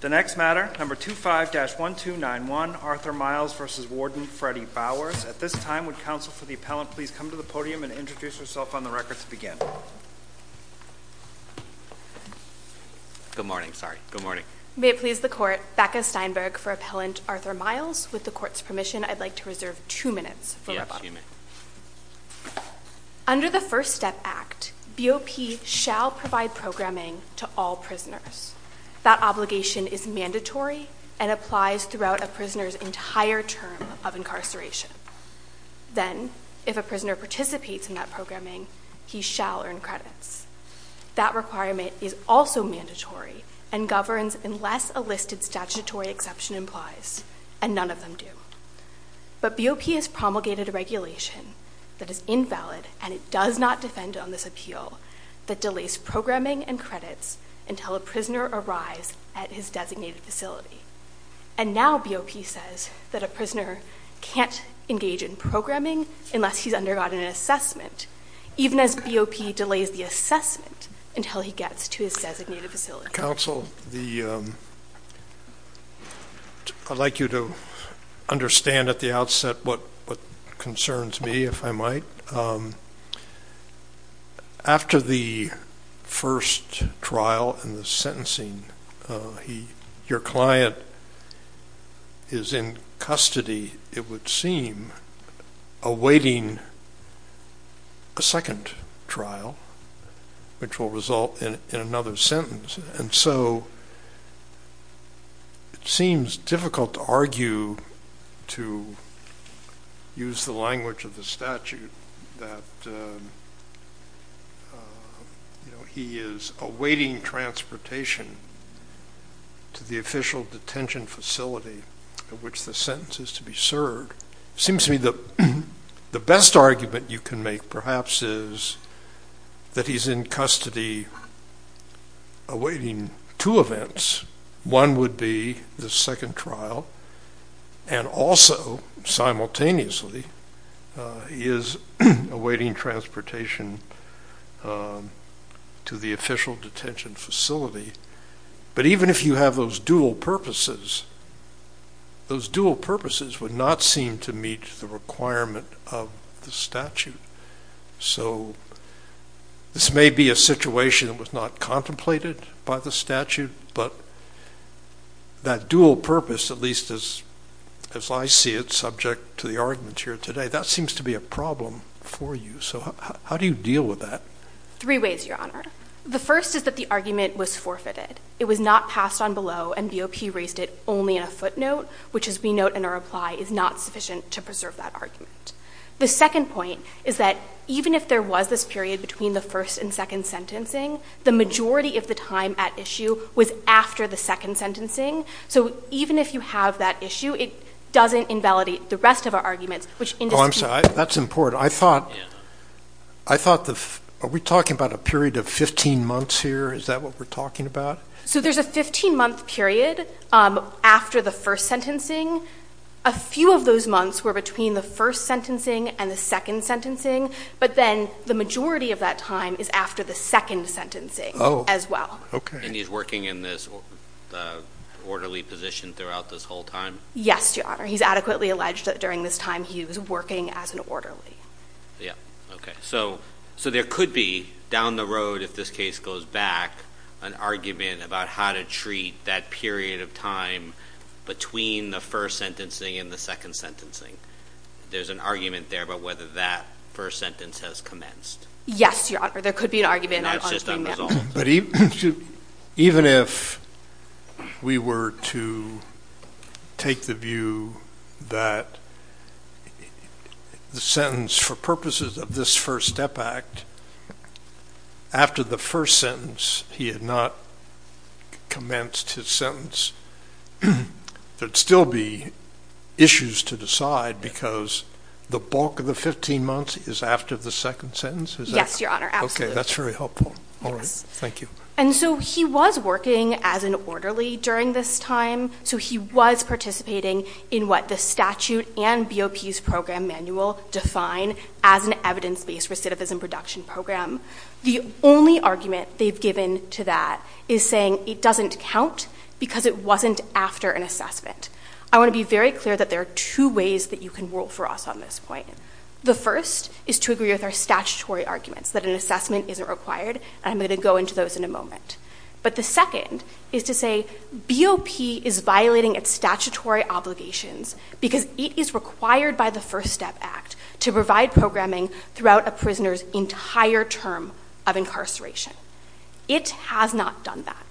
The next matter, number 25-1291, Arthur Miles v. Warden Freddy Bowers. At this time, would counsel for the appellant please come to the podium and introduce herself on the record to begin. Good morning, sorry. Good morning. May it please the Court, Becca Steinberg for Appellant Arthur Miles. With the Court's permission, I'd like to reserve two minutes for rebuttal. Yes, you may. Under the First Step Act, BOP shall provide programming to all prisoners. That obligation is mandatory and applies throughout a prisoner's entire term of incarceration. Then, if a prisoner participates in that programming, he shall earn credits. That requirement is also mandatory and governs unless a listed statutory exception implies, and none of them do. But BOP has promulgated a regulation that is invalid and it does not defend on this appeal that delays programming and credits until a prisoner arrives at his designated facility. And now BOP says that a prisoner can't engage in programming unless he's undergone an assessment, even as BOP delays the assessment until he gets to his designated facility. Counsel, I'd like you to understand at the outset what concerns me, if I might. After the first trial and the sentencing, your client is in custody, it would seem, awaiting a second trial, which will result in another sentence. And so it seems difficult to argue, to use the language of the statute, that he is awaiting transportation to the official detention facility at which the sentence is to be served. It seems to me that the best argument you can make, perhaps, is that he's in custody awaiting two events. One would be the second trial, and also, simultaneously, he is awaiting transportation to the official detention facility. But even if you have those dual purposes, those dual purposes would not seem to meet the requirement of the statute. So this may be a situation that was not contemplated by the statute, but that dual purpose, at least as I see it, subject to the arguments here today, that seems to be a problem for you. So how do you deal with that? Three ways, Your Honor. The first is that the argument was forfeited. It was not passed on below, and BOP raised it only in a footnote, which, as we note in our reply, is not sufficient to preserve that argument. The second point is that, even if there was this period between the first and second sentencing, the majority of the time at issue was after the second sentencing. So even if you have that issue, it doesn't invalidate the rest of our arguments, which indisputably— That's important. I thought—are we talking about a period of 15 months here? Is that what we're talking about? So there's a 15-month period after the first sentencing. A few of those months were between the first sentencing and the second sentencing, but then the majority of that time is after the second sentencing as well. And he's working in this orderly position throughout this whole time? Yes, Your Honor. He's adequately alleged that during this time he was working as an orderly. Yeah. Okay. So there could be, down the road, if this case goes back, an argument about how to treat that period of time between the first sentencing and the second sentencing. There's an argument there about whether that first sentence has commenced. Yes, Your Honor. There could be an argument— And that's just unresolved. But even if we were to take the view that the sentence for purposes of this First Step Act, after the first sentence he had not commenced his sentence, there'd still be issues to decide because the bulk of the 15 months is after the second sentence? Yes, Your Honor. Absolutely. That's very helpful. All right. Thank you. And so he was working as an orderly during this time, so he was participating in what the statute and BOP's program manual define as an evidence-based recidivism production program. The only argument they've given to that is saying it doesn't count because it wasn't after an assessment. I want to be very clear that there are two ways that you can rule for us on this point. The first is to agree with our statutory arguments that an assessment isn't required, and I'm going to go into those in a moment. But the second is to say BOP is violating its statutory obligations because it is required by the First Step Act to provide programming throughout a prisoner's entire term of incarceration. It has not done that.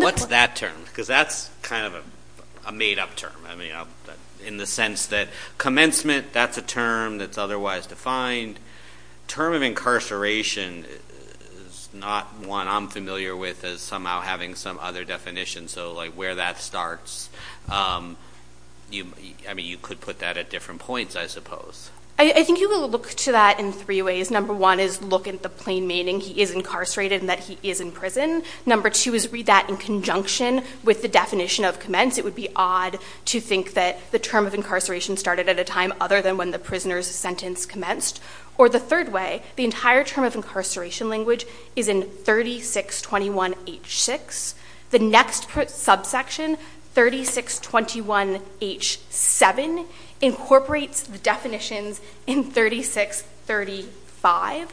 What's that term? Because that's kind of a made-up term, in the sense that commencement, that's a term that's otherwise defined. Term of incarceration is not one I'm familiar with as somehow having some other definition. So where that starts, you could put that at different points, I suppose. I think you would look to that in three ways. Number one is look at the plain meaning. He is incarcerated and that he is in prison. Number two is read that in conjunction with the definition of commence. It would be odd to think that the term of incarceration started at a time other than when the prisoner's sentence commenced. Or the third way, the entire term of incarceration language is in 3621H6. The next subsection, 3621H7, incorporates the definitions in 3635.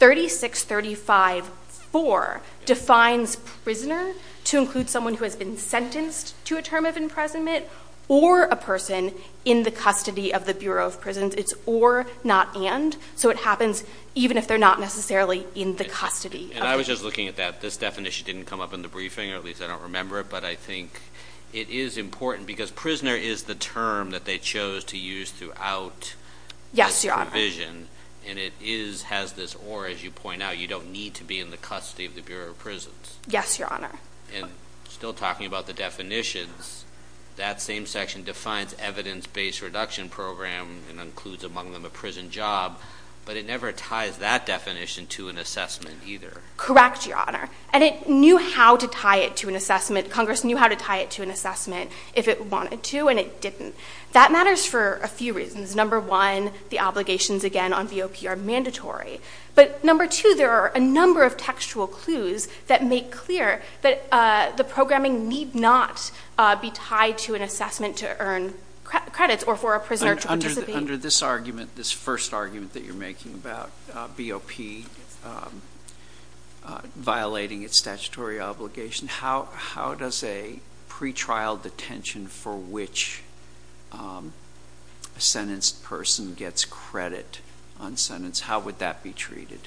3635.4 defines prisoner to include someone who has been sentenced to a term of imprisonment or a person in the custody of the Bureau of Prisons. It's or, not and. So it happens even if they're not necessarily in the custody. And I was just looking at that. This definition didn't come up in the briefing, or at least I don't remember it. But I think it is important because prisoner is the term that they chose to use throughout this provision. Yes, Your Honor. And it is, has this or, as you point out, you don't need to be in the custody of the Bureau of Prisons. Yes, Your Honor. And still talking about the definitions, that same section defines evidence-based reduction program and includes among them a prison job. But it never ties that definition to an assessment either. Correct, Your Honor. And it knew how to tie it to an assessment. Congress knew how to tie it to an assessment if it wanted to, and it didn't. That matters for a few reasons. Number one, the obligations, again, on BOP are mandatory. But number two, there are a number of textual clues that make clear that the programming need not be tied to an assessment to earn credits or for a prisoner to participate. Under this argument, this first argument that you're making about BOP violating its statutory obligation, how does a pretrial detention for which a sentenced person gets credit on sentence, how would that be treated?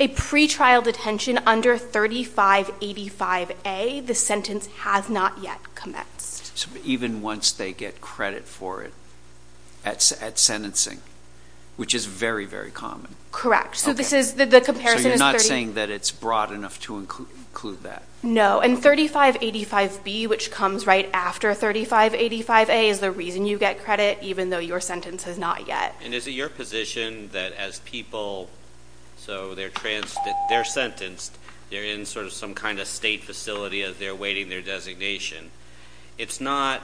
A pretrial detention under 3585A, the sentence has not yet commenced. So even once they get credit for it at sentencing, which is very, very common. Correct. So you're not saying that it's broad enough to include that? No. And 3585B, which comes right after 3585A, is the reason you get credit, even though your sentence has not yet. And is it your position that as people, so they're sentenced, they're in sort of some kind of state facility as they're awaiting their designation? It's not.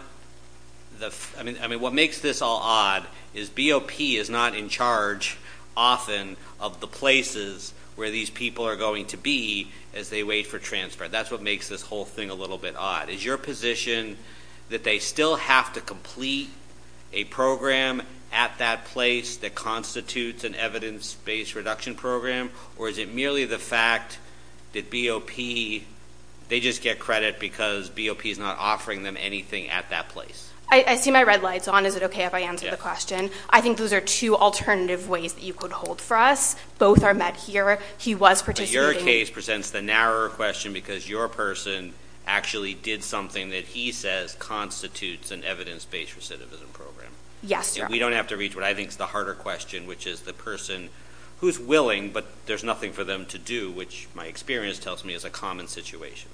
I mean, what makes this all odd is BOP is not in charge, often, of the places where these people are going to be as they wait for transfer. That's what makes this whole thing a little bit odd. Is your position that they still have to complete a program at that place that constitutes an evidence-based reduction program, or is it merely the fact that BOP, they just get credit because BOP is not offering them anything at that place? I see my red lights on. Is it okay if I answer the question? I think those are two alternative ways that you could hold for us. Both are met here. But your case presents the narrower question because your person actually did something that he says constitutes an evidence-based recidivism program. Yes, sir. And we don't have to reach what I think is the harder question, which is the person who's willing but there's nothing for them to do, which my experience tells me is a common situation.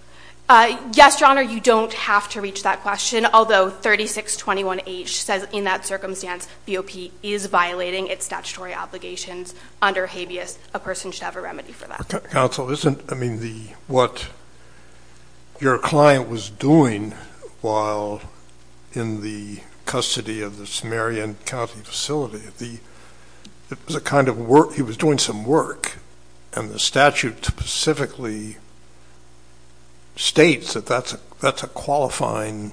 Yes, Your Honor, you don't have to reach that question, although 3621H says in that circumstance BOP is violating its statutory obligations under habeas, a person should have a remedy for that. Counsel, isn't what your client was doing while in the custody of the Samaritan County facility, it was a kind of work, he was doing some work, and the statute specifically states that that's a qualifying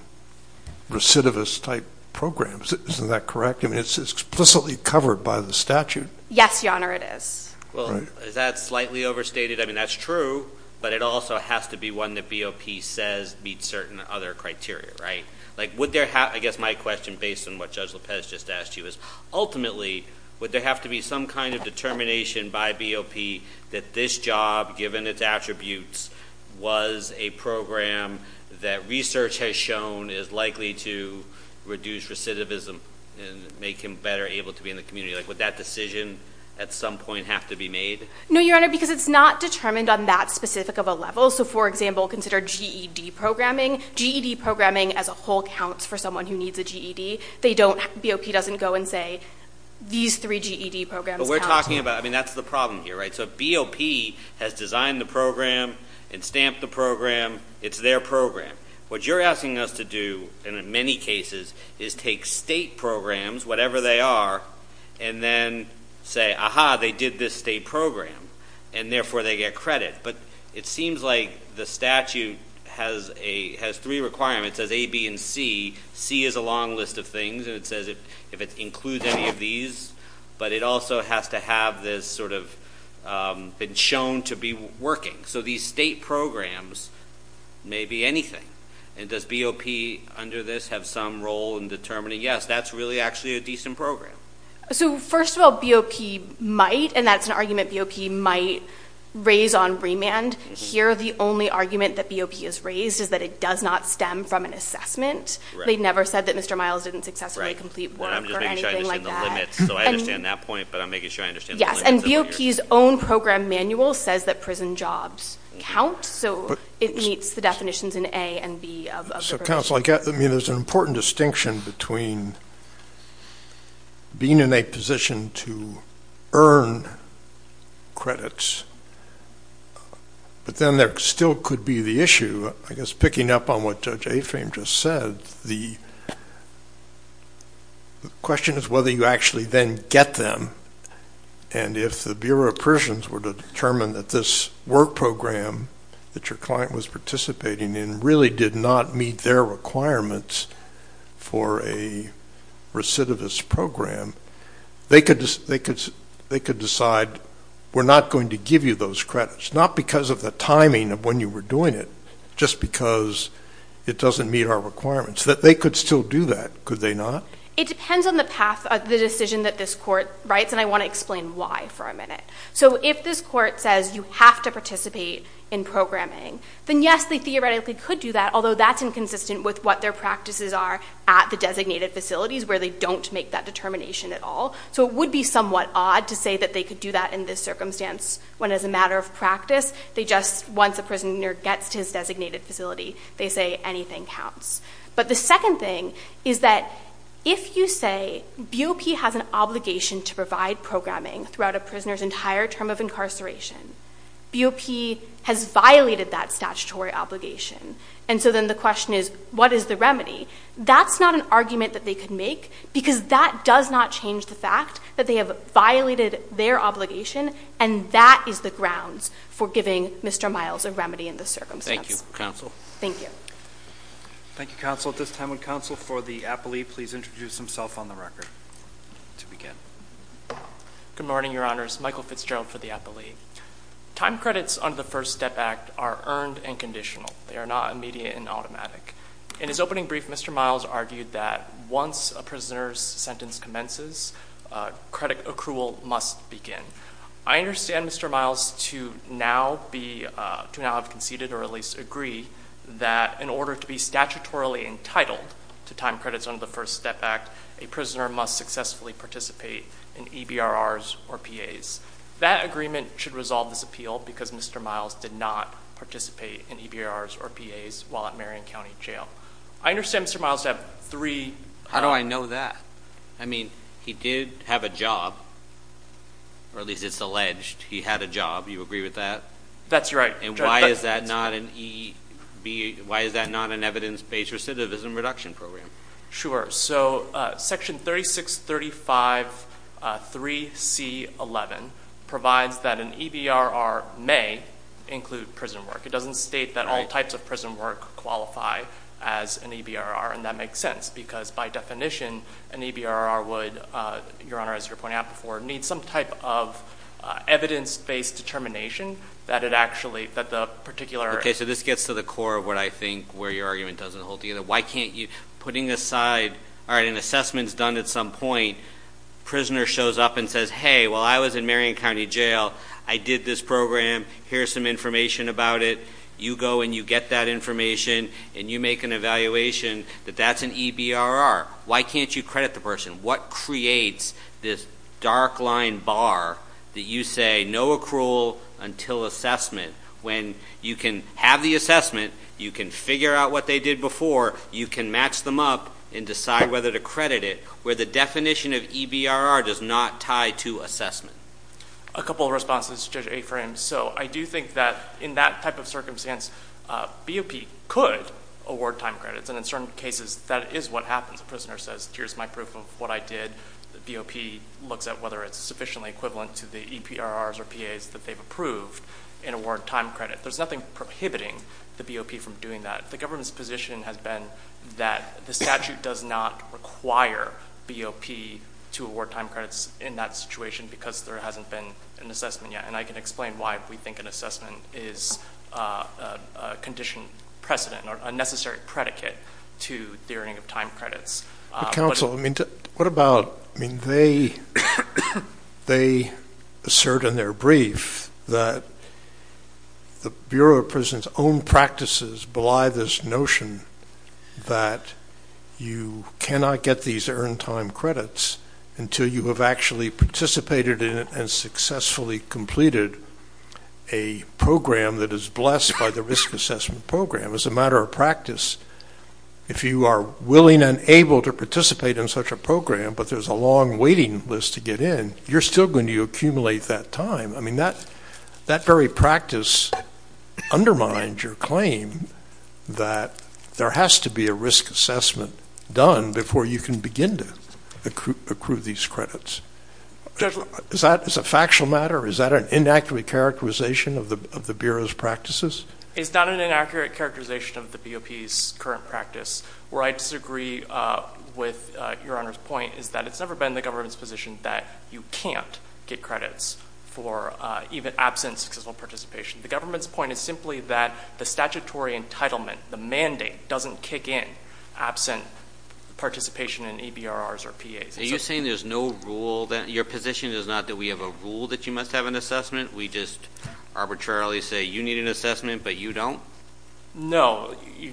recidivist-type program. Isn't that correct? I mean, it's explicitly covered by the statute. Yes, Your Honor, it is. Well, is that slightly overstated? I mean, that's true, but it also has to be one that BOP says meets certain other criteria, right? I guess my question, based on what Judge Lopez just asked you, is ultimately would there have to be some kind of determination by BOP that this job, given its attributes, was a program that research has shown is likely to reduce recidivism and make him better able to be in the community? Would that decision at some point have to be made? No, Your Honor, because it's not determined on that specific of a level. So, for example, consider GED programming. GED programming as a whole counts for someone who needs a GED. BOP doesn't go and say, these three GED programs count. But we're talking about, I mean, that's the problem here, right? So BOP has designed the program and stamped the program. It's their program. What you're asking us to do, in many cases, is take state programs, whatever they are, and then say, aha, they did this state program, and therefore they get credit. But it seems like the statute has three requirements. It says A, B, and C. C is a long list of things, and it says if it includes any of these. But it also has to have this sort of been shown to be working. So these state programs may be anything. And does BOP, under this, have some role in determining, yes, that's really actually a decent program? So, first of all, BOP might, and that's an argument BOP might raise on remand. Here, the only argument that BOP has raised is that it does not stem from an assessment. They never said that Mr. Miles didn't successfully complete work or anything like that. I'm just making sure I understand the limits. So I understand that point, but I'm making sure I understand the limits. Yes, and BOP's own program manual says that prison jobs count. So it meets the definitions in A and B of the provision. Counsel, I mean, there's an important distinction between being in a position to earn credits, but then there still could be the issue, I guess, picking up on what Judge Afame just said. The question is whether you actually then get them. And if the Bureau of Prisons were to determine that this work program that your client was participating in really did not meet their requirements for a recidivist program, they could decide we're not going to give you those credits, not because of the timing of when you were doing it, just because it doesn't meet our requirements. They could still do that, could they not? It depends on the path of the decision that this court writes, and I want to explain why for a minute. So if this court says you have to participate in programming, then yes, they theoretically could do that, although that's inconsistent with what their practices are at the designated facilities where they don't make that determination at all. So it would be somewhat odd to say that they could do that in this circumstance when as a matter of practice, once a prisoner gets to his designated facility, they say anything counts. But the second thing is that if you say BOP has an obligation to provide programming throughout a prisoner's entire term of incarceration, BOP has violated that statutory obligation. And so then the question is what is the remedy? That's not an argument that they could make because that does not change the fact that they have violated their obligation, and that is the grounds for giving Mr. Miles a remedy in this circumstance. Thank you, counsel. Thank you. Thank you, counsel. At this time, would counsel for the appellee please introduce himself on the record to begin? Good morning, Your Honors. Michael Fitzgerald for the appellee. Time credits under the First Step Act are earned and conditional. They are not immediate and automatic. In his opening brief, Mr. Miles argued that once a prisoner's sentence commences, credit accrual must begin. I understand, Mr. Miles, to now have conceded or at least agree that in order to be statutorily entitled to time credits under the First Step Act, a prisoner must successfully participate in EBRRs or PAs. That agreement should resolve this appeal because Mr. Miles did not participate in EBRRs or PAs while at Marion County Jail. I understand, Mr. Miles, to have three. How do I know that? I mean, he did have a job, or at least it's alleged he had a job. Do you agree with that? That's right. And why is that not an evidence-based recidivism reduction program? Sure. So Section 36353C11 provides that an EBRR may include prison work. It doesn't state that all types of prison work qualify as an EBRR, and that makes sense because, by definition, an EBRR would, Your Honor, as you were pointing out before, need some type of evidence-based determination that the particular— Okay, so this gets to the core of what I think where your argument doesn't hold together. Why can't you—putting aside—all right, an assessment's done at some point. Prisoner shows up and says, Hey, while I was in Marion County Jail, I did this program. Here's some information about it. You go and you get that information, and you make an evaluation that that's an EBRR. Why can't you credit the person? What creates this dark-line bar that you say no accrual until assessment when you can have the assessment, you can figure out what they did before, you can match them up and decide whether to credit it, where the definition of EBRR does not tie to assessment? A couple of responses, Judge Afram. So I do think that in that type of circumstance, BOP could award time credits, and in certain cases that is what happens. A prisoner says, Here's my proof of what I did. The BOP looks at whether it's sufficiently equivalent to the EBRRs or PAs that they've approved and award time credit. There's nothing prohibiting the BOP from doing that. The government's position has been that the statute does not require BOP to award time credits in that situation because there hasn't been an assessment yet, and I can explain why we think an assessment is a condition precedent or a necessary predicate to the earning of time credits. Counsel, what about they assert in their brief that the Bureau of Prisons' own practices belie this notion that you cannot get these earned time credits until you have actually participated in it and successfully completed a program that is blessed by the risk assessment program. As a matter of practice, if you are willing and able to participate in such a program but there's a long waiting list to get in, you're still going to accumulate that time. I mean, that very practice undermines your claim that there has to be a risk assessment done before you can begin to accrue these credits. Is that a factual matter? Is that an inaccurate characterization of the Bureau's practices? It's not an inaccurate characterization of the BOP's current practice. Where I disagree with Your Honor's point is that it's never been the government's position that you can't get credits for even absence of successful participation. The government's point is simply that the statutory entitlement, the mandate, doesn't kick in absent participation in EBRRs or PAs. Are you saying there's no rule then? Your position is not that we have a rule that you must have an assessment? We just arbitrarily say you need an assessment but you don't?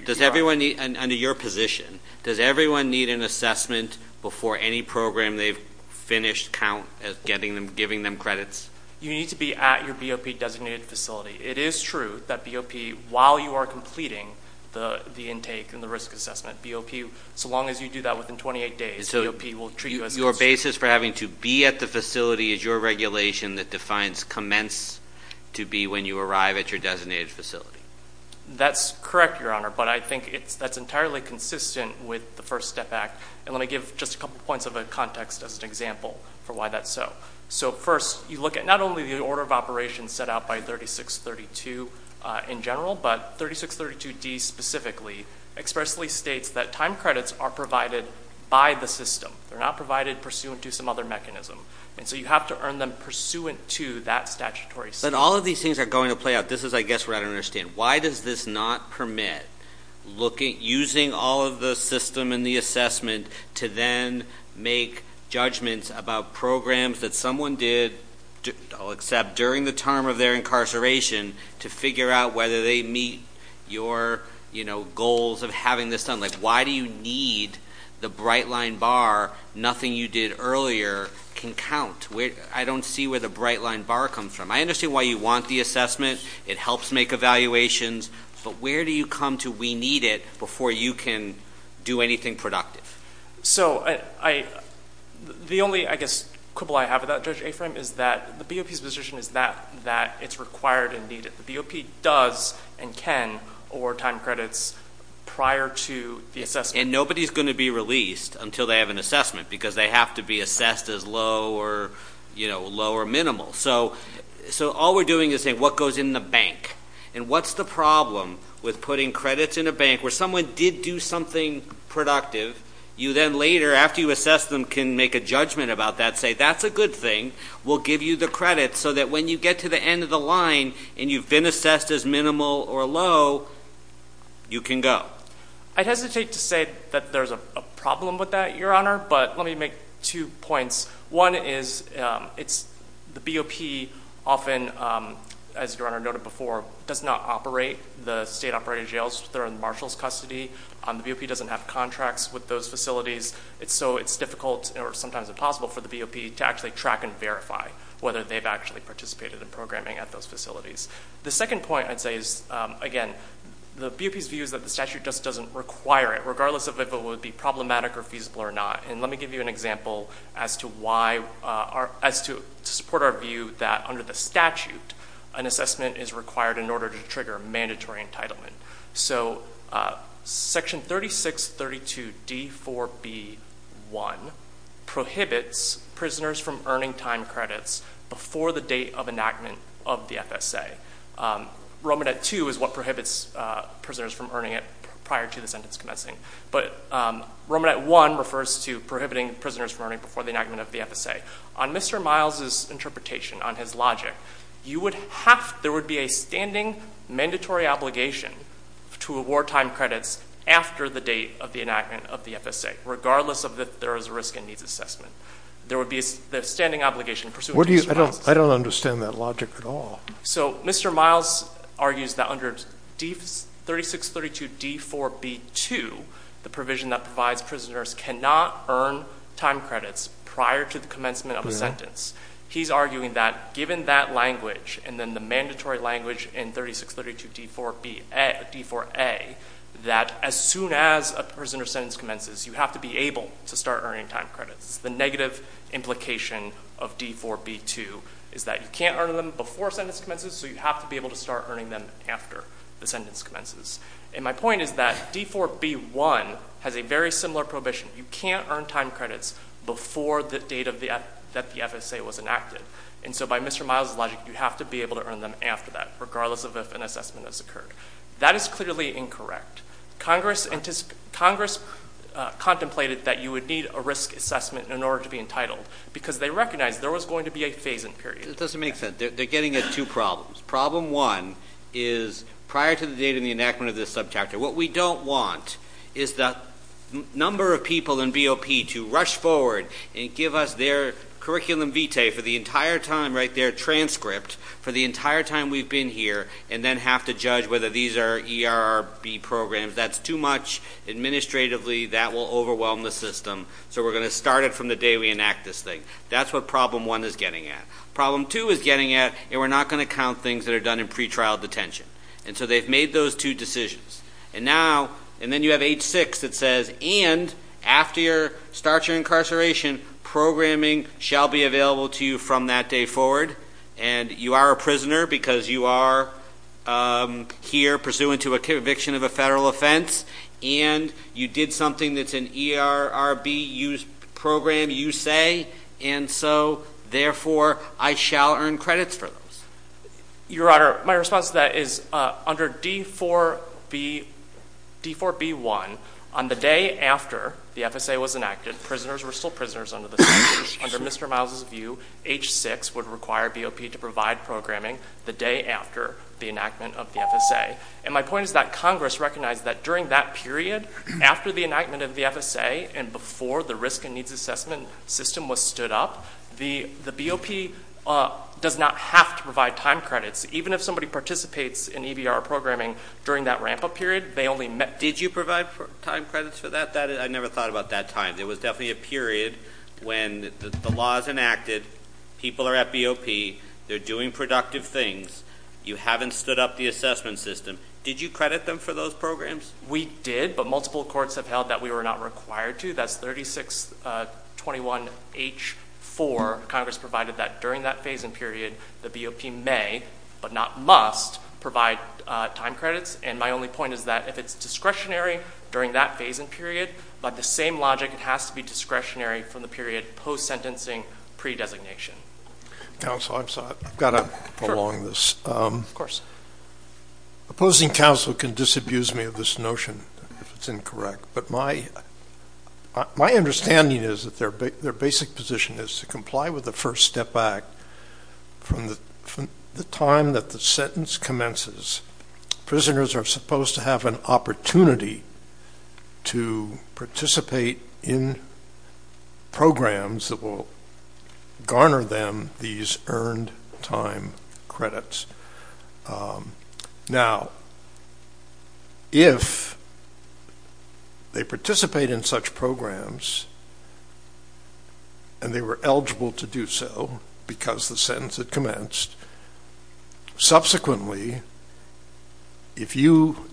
Does everyone need, under your position, does everyone need an assessment before any program they've finished count as giving them credits? You need to be at your BOP-designated facility. It is true that BOP, while you are completing the intake and the risk assessment, BOP, so long as you do that within 28 days, BOP will treat you as considered. The basis for having to be at the facility is your regulation that defines commence to be when you arrive at your designated facility. That's correct, Your Honor, but I think that's entirely consistent with the First Step Act. Let me give just a couple points of context as an example for why that's so. First, you look at not only the order of operations set out by 3632 in general, but 3632D specifically expressly states that time credits are provided by the system. They're not provided pursuant to some other mechanism, and so you have to earn them pursuant to that statutory system. But all of these things are going to play out. This is, I guess, what I don't understand. Why does this not permit using all of the system and the assessment to then make judgments about programs that someone did, except during the term of their incarceration, to figure out whether they meet your goals of having this done? Like why do you need the bright-line bar, nothing you did earlier can count? I don't see where the bright-line bar comes from. I understand why you want the assessment. It helps make evaluations. But where do you come to we need it before you can do anything productive? So the only, I guess, quibble I have about Judge Aframe is that the BOP's position is that it's required and needed. The BOP does and can overtime credits prior to the assessment. And nobody's going to be released until they have an assessment because they have to be assessed as low or minimal. So all we're doing is saying what goes in the bank, and what's the problem with putting credits in a bank where someone did do something productive, you then later, after you assess them, can make a judgment about that, say that's a good thing, we'll give you the credit, so that when you get to the end of the line and you've been assessed as minimal or low, you can go. I hesitate to say that there's a problem with that, Your Honor, but let me make two points. One is the BOP often, as Your Honor noted before, does not operate the state-operated jails that are in Marshall's custody. The BOP doesn't have contracts with those facilities, so it's difficult or sometimes impossible for the BOP to actually track and verify whether they've actually participated in programming at those facilities. The second point I'd say is, again, the BOP's view is that the statute just doesn't require it, regardless of if it would be problematic or feasible or not. And let me give you an example as to support our view that under the statute, an assessment is required in order to trigger mandatory entitlement. Section 3632D4B1 prohibits prisoners from earning time credits before the date of enactment of the FSA. Romanette 2 is what prohibits prisoners from earning it prior to the sentence commencing, but Romanette 1 refers to prohibiting prisoners from earning before the enactment of the FSA. On Mr. Miles' interpretation, on his logic, there would be a standing mandatory obligation to award time credits after the date of the enactment of the FSA, regardless of if there is a risk and needs assessment. There would be a standing obligation pursuant to Mr. Miles. I don't understand that logic at all. So Mr. Miles argues that under 3632D4B2, the provision that provides prisoners cannot earn time credits prior to the commencement of a sentence. He's arguing that given that language and then the mandatory language in 3632D4A, that as soon as a prisoner's sentence commences, you have to be able to start earning time credits. The negative implication of D4B2 is that you can't earn them before a sentence commences, so you have to be able to start earning them after the sentence commences. And my point is that D4B1 has a very similar prohibition. You can't earn time credits before the date that the FSA was enacted, and so by Mr. Miles' logic, you have to be able to earn them after that, regardless of if an assessment has occurred. That is clearly incorrect. Congress contemplated that you would need a risk assessment in order to be entitled because they recognized there was going to be a phase-in period. It doesn't make sense. They're getting at two problems. Problem one is prior to the date of the enactment of this subchapter, what we don't want is the number of people in BOP to rush forward and give us their curriculum vitae for the entire time, right there, transcript, for the entire time we've been here, and then have to judge whether these are ERRB programs. That's too much. Administratively, that will overwhelm the system, so we're going to start it from the day we enact this thing. That's what problem one is getting at. Problem two is getting at, and we're not going to count things that are done in pretrial detention. And so they've made those two decisions. And now, and then you have H-6 that says, and after you start your incarceration, programming shall be available to you from that day forward, and you are a prisoner because you are here pursuant to a conviction of a federal offense, and you did something that's an ERRB program, you say, and so, therefore, I shall earn credits for those. Your Honor, my response to that is, under D-4B1, on the day after the FSA was enacted, prisoners were still prisoners under the statute. Under Mr. Miles' view, H-6 would require BOP to provide programming the day after the enactment of the FSA. And my point is that Congress recognized that during that period, after the enactment of the FSA and before the risk and needs assessment system was stood up, the BOP does not have to provide time credits. Even if somebody participates in EBR programming during that ramp-up period, they only met. Did you provide time credits for that? I never thought about that time. It was definitely a period when the law is enacted, people are at BOP, they're doing productive things, you haven't stood up the assessment system. Did you credit them for those programs? We did, but multiple courts have held that we were not required to. That's 3621H-4. Congress provided that during that phase and period, the BOP may, but not must, provide time credits. And my only point is that if it's discretionary during that phase and period, by the same logic, it has to be discretionary from the period post-sentencing pre-designation. Counsel, I've got to prolong this. Of course. Opposing counsel can disabuse me of this notion if it's incorrect, but my understanding is that their basic position is to comply with the First Step Act from the time that the sentence commences. Prisoners are supposed to have an opportunity to participate in programs that will garner them these earned time credits. Now, if they participate in such programs and they were eligible to do so because the sentence had commenced, subsequently, if you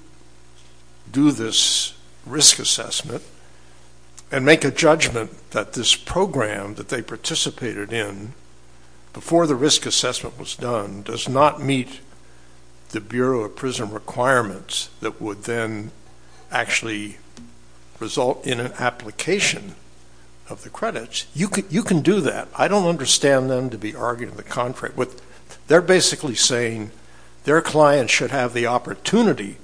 do this risk assessment and make a judgment that this program that they participated in before the risk assessment was done does not meet the Bureau of Prison Requirements that would then actually result in an application of the credits, you can do that. I don't understand them to be arguing the contrary. They're basically saying their client should have the opportunity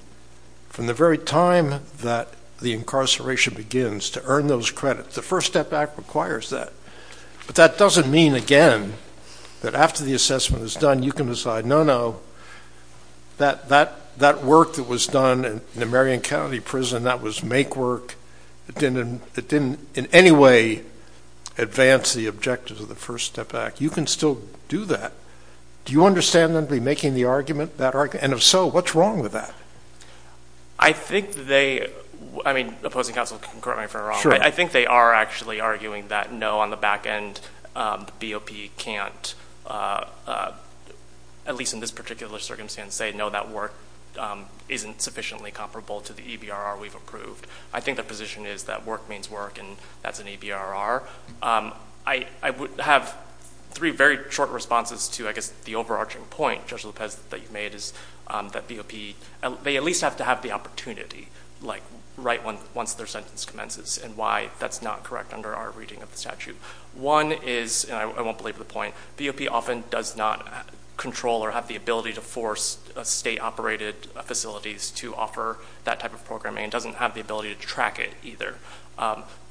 from the very time that the incarceration begins to earn those credits. The First Step Act requires that. But that doesn't mean, again, that after the assessment is done, you can decide, no, no, that work that was done in the Marion County Prison, that was make work, it didn't in any way advance the objectives of the First Step Act. You can still do that. Do you understand them to be making the argument? And if so, what's wrong with that? I think they, I mean, opposing counsel can correct me if I'm wrong, but I think they are actually arguing that, no, on the back end, the BOP can't, at least in this particular circumstance, say, no, that work isn't sufficiently comparable to the EBRR we've approved. I think their position is that work means work, and that's an EBRR. I would have three very short responses to, I guess, the overarching point, Judge Lopez, that you made is that BOP, they at least have to have the opportunity, like, right once their sentence commences, and why that's not correct under our reading of the statute. One is, and I won't believe the point, BOP often does not control or have the ability to force state-operated facilities to offer that type of programming and doesn't have the ability to track it either.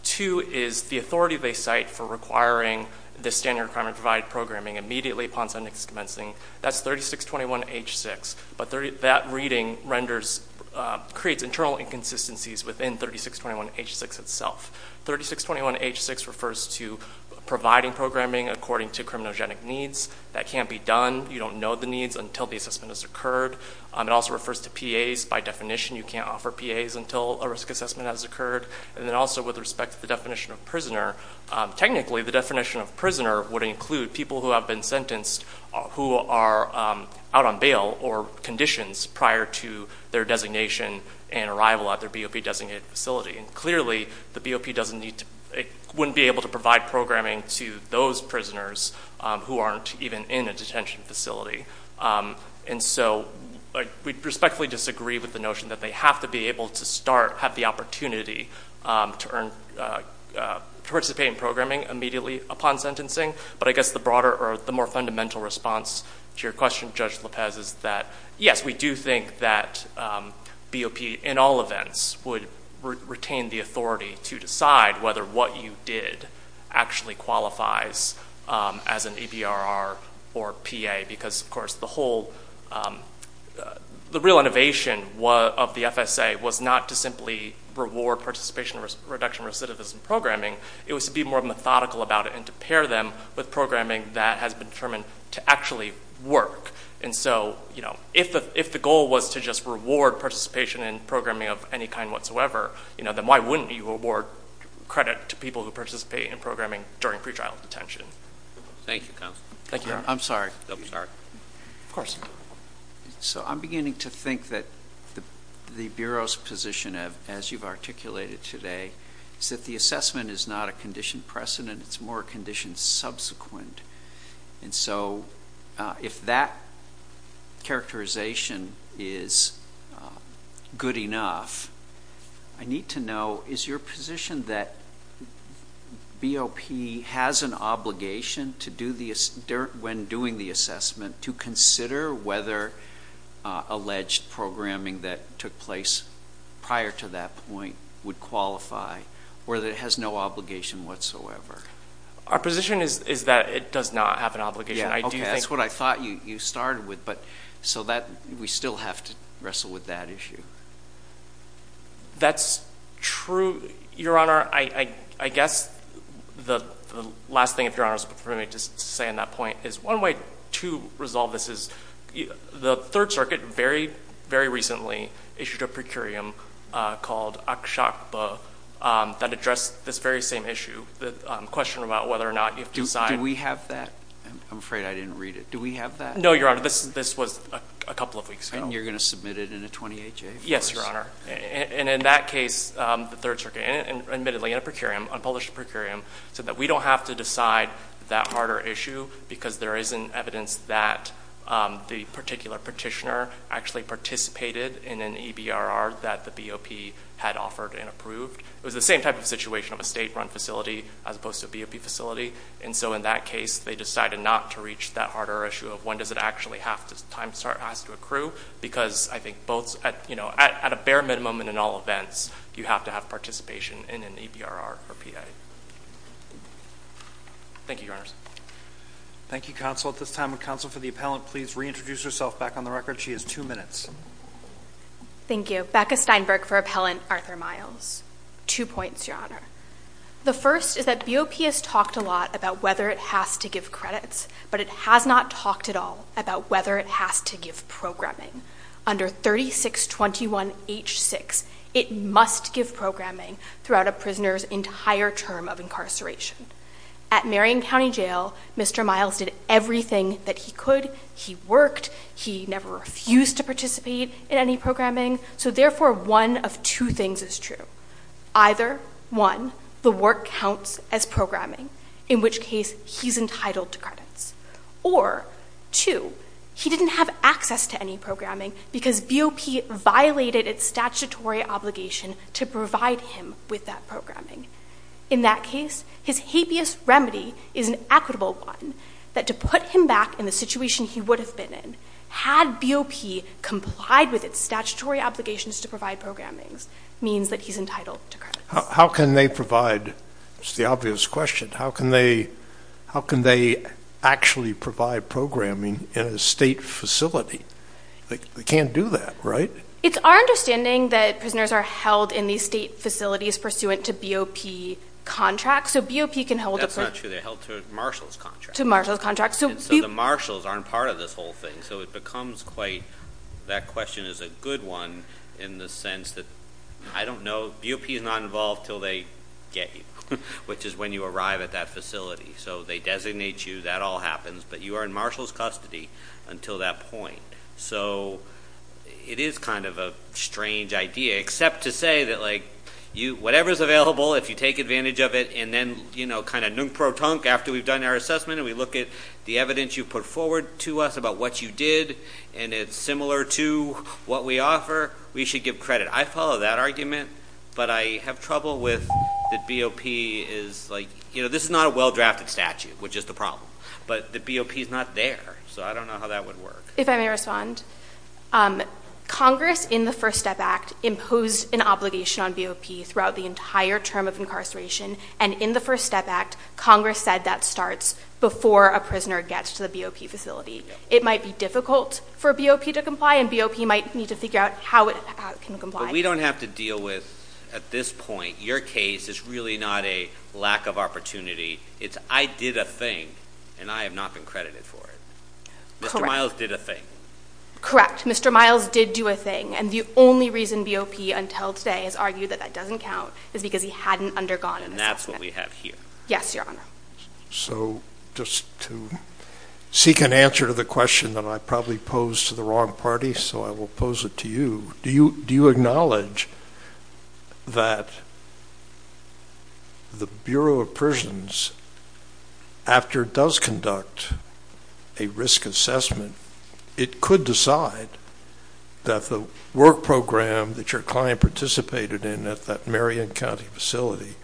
Two is the authority they cite for requiring the standard requirement to provide programming immediately upon sentence commencing, that's 3621H6, but that reading renders, creates internal inconsistencies within 3621H6 itself. 3621H6 refers to providing programming according to criminogenic needs. That can't be done. You don't know the needs until the assessment has occurred. It also refers to PAs. By definition, you can't offer PAs until a risk assessment has occurred. And then also with respect to the definition of prisoner, technically the definition of prisoner would include people who have been sentenced who are out on bail or conditions prior to their designation and arrival at their BOP-designated facility. And clearly the BOP wouldn't be able to provide programming to those prisoners who aren't even in a detention facility. And so we respectfully disagree with the notion that they have to be able to start, have the opportunity to participate in programming immediately upon sentencing, but I guess the broader or the more fundamental response to your question, Judge Lopez, is that, yes, we do think that BOP in all events would retain the authority to decide whether what you did actually qualifies as an EBRR or PA because, of course, the real innovation of the FSA was not to simply reward participation reduction recidivism programming. It was to be more methodical about it and to pair them with programming that has been determined to actually work. And so if the goal was to just reward participation in programming of any kind whatsoever, then why wouldn't you award credit to people who participate in programming during pretrial detention? Thank you, counsel. Thank you. I'm sorry. Of course. So I'm beginning to think that the Bureau's position, as you've articulated today, is that the assessment is not a condition precedent. It's more a condition subsequent. And so if that characterization is good enough, I need to know is your position that BOP has an obligation when doing the assessment to consider whether alleged programming that took place prior to that point would qualify or that it has no obligation whatsoever? Our position is that it does not have an obligation. That's what I thought you started with. So we still have to wrestle with that issue. That's true, Your Honor. I guess the last thing, if Your Honor is permitting me to say on that point, is one way to resolve this is the Third Circuit very, very recently issued a procurium called Akshakpa that addressed this very same issue, the question about whether or not you have to sign. Do we have that? I'm afraid I didn't read it. Do we have that? No, Your Honor. This was a couple of weeks ago. And you're going to submit it in a 28-J? Yes, Your Honor. And in that case, the Third Circuit, admittedly in a procurium, unpublished procurium, said that we don't have to decide that harder issue because there isn't evidence that the particular petitioner actually participated in an EBRR that the BOP had offered and approved. It was the same type of situation of a state-run facility as opposed to a BOP facility. And so in that case, they decided not to reach that harder issue of when does it actually have to, because I think both at a bare minimum and in all events, you have to have participation in an EBRR or PA. Thank you, Your Honors. Thank you, counsel. At this time, would counsel for the appellant please reintroduce herself back on the record? She has two minutes. Thank you. Becca Steinberg for Appellant Arthur Miles. Two points, Your Honor. The first is that BOP has talked a lot about whether it has to give credits, but it has not talked at all about whether it has to give programming. Under 3621H6, it must give programming throughout a prisoner's entire term of incarceration. At Marion County Jail, Mr. Miles did everything that he could. He worked. He never refused to participate in any programming. So therefore, one of two things is true. Either, one, the work counts as programming, in which case he's entitled to credits, or, two, he didn't have access to any programming because BOP violated its statutory obligation to provide him with that programming. In that case, his habeas remedy is an equitable one, that to put him back in the situation he would have been in, had BOP complied with its statutory obligations to provide programmings, means that he's entitled to credits. How can they provide? It's the obvious question. How can they actually provide programming in a state facility? They can't do that, right? It's our understanding that prisoners are held in these state facilities pursuant to BOP contracts. So BOP can hold them. That's not true. They're held to a marshal's contract. To a marshal's contract. So the marshals aren't part of this whole thing. So it becomes quite, that question is a good one in the sense that, I don't know, BOP is not involved until they get you, which is when you arrive at that facility. So they designate you. That all happens. But you are in marshal's custody until that point. So it is kind of a strange idea, except to say that, like, whatever's available, if you take advantage of it, and then, you know, kind of nunk-pro-tunk after we've done our assessment and we look at the evidence you put forward to us about what you did, and it's similar to what we offer, we should give credit. I follow that argument. But I have trouble with that BOP is, like, you know, this is not a well-drafted statute, which is the problem. But the BOP is not there. So I don't know how that would work. If I may respond. Congress, in the First Step Act, imposed an obligation on BOP throughout the entire term of incarceration, and in the First Step Act, Congress said that starts before a prisoner gets to the BOP facility. It might be difficult for BOP to comply, and BOP might need to figure out how it can comply. But we don't have to deal with, at this point, your case is really not a lack of opportunity. It's I did a thing, and I have not been credited for it. Correct. Mr. Miles did a thing. Correct. Mr. Miles did do a thing. And the only reason BOP, until today, has argued that that doesn't count is because he hadn't undergone an assessment. And that's what we have here. Yes, Your Honor. So just to seek an answer to the question that I probably posed to the wrong party, so I will pose it to you. Do you acknowledge that the Bureau of Prisons, after it does conduct a risk assessment, it could decide that the work program that your client participated in at that Marion County facility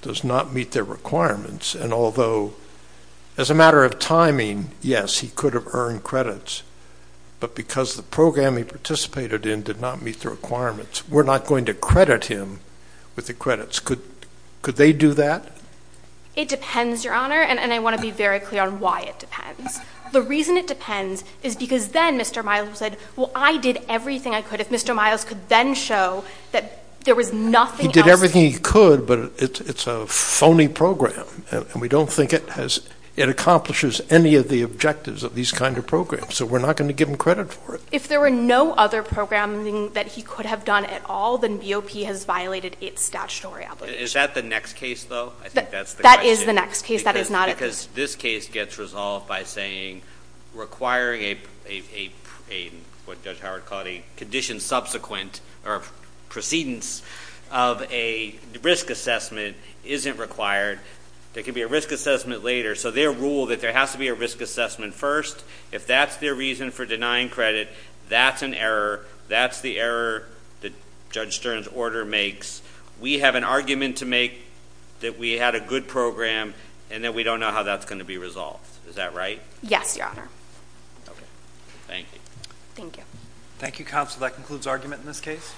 does not meet their requirements? And although, as a matter of timing, yes, he could have earned credits, but because the program he participated in did not meet the requirements, we're not going to credit him with the credits. Could they do that? It depends, Your Honor, and I want to be very clear on why it depends. The reason it depends is because then Mr. Miles said, well, I did everything I could. If Mr. Miles could then show that there was nothing else. He did everything he could, but it's a phony program, and we don't think it accomplishes any of the objectives of these kind of programs. So we're not going to give him credit for it. If there were no other programming that he could have done at all, then BOP has violated its statutory obligation. Is that the next case, though? That is the next case. That is not it. Because this case gets resolved by saying requiring what Judge Howard called a condition subsequent or precedence of a risk assessment isn't required. There could be a risk assessment later, so they rule that there has to be a risk assessment first. If that's their reason for denying credit, that's an error. That's the error that Judge Stern's order makes. We have an argument to make that we had a good program and that we don't know how that's going to be resolved. Is that right? Yes, Your Honor. Okay. Thank you. Thank you. Thank you, Counsel. That concludes argument in this case.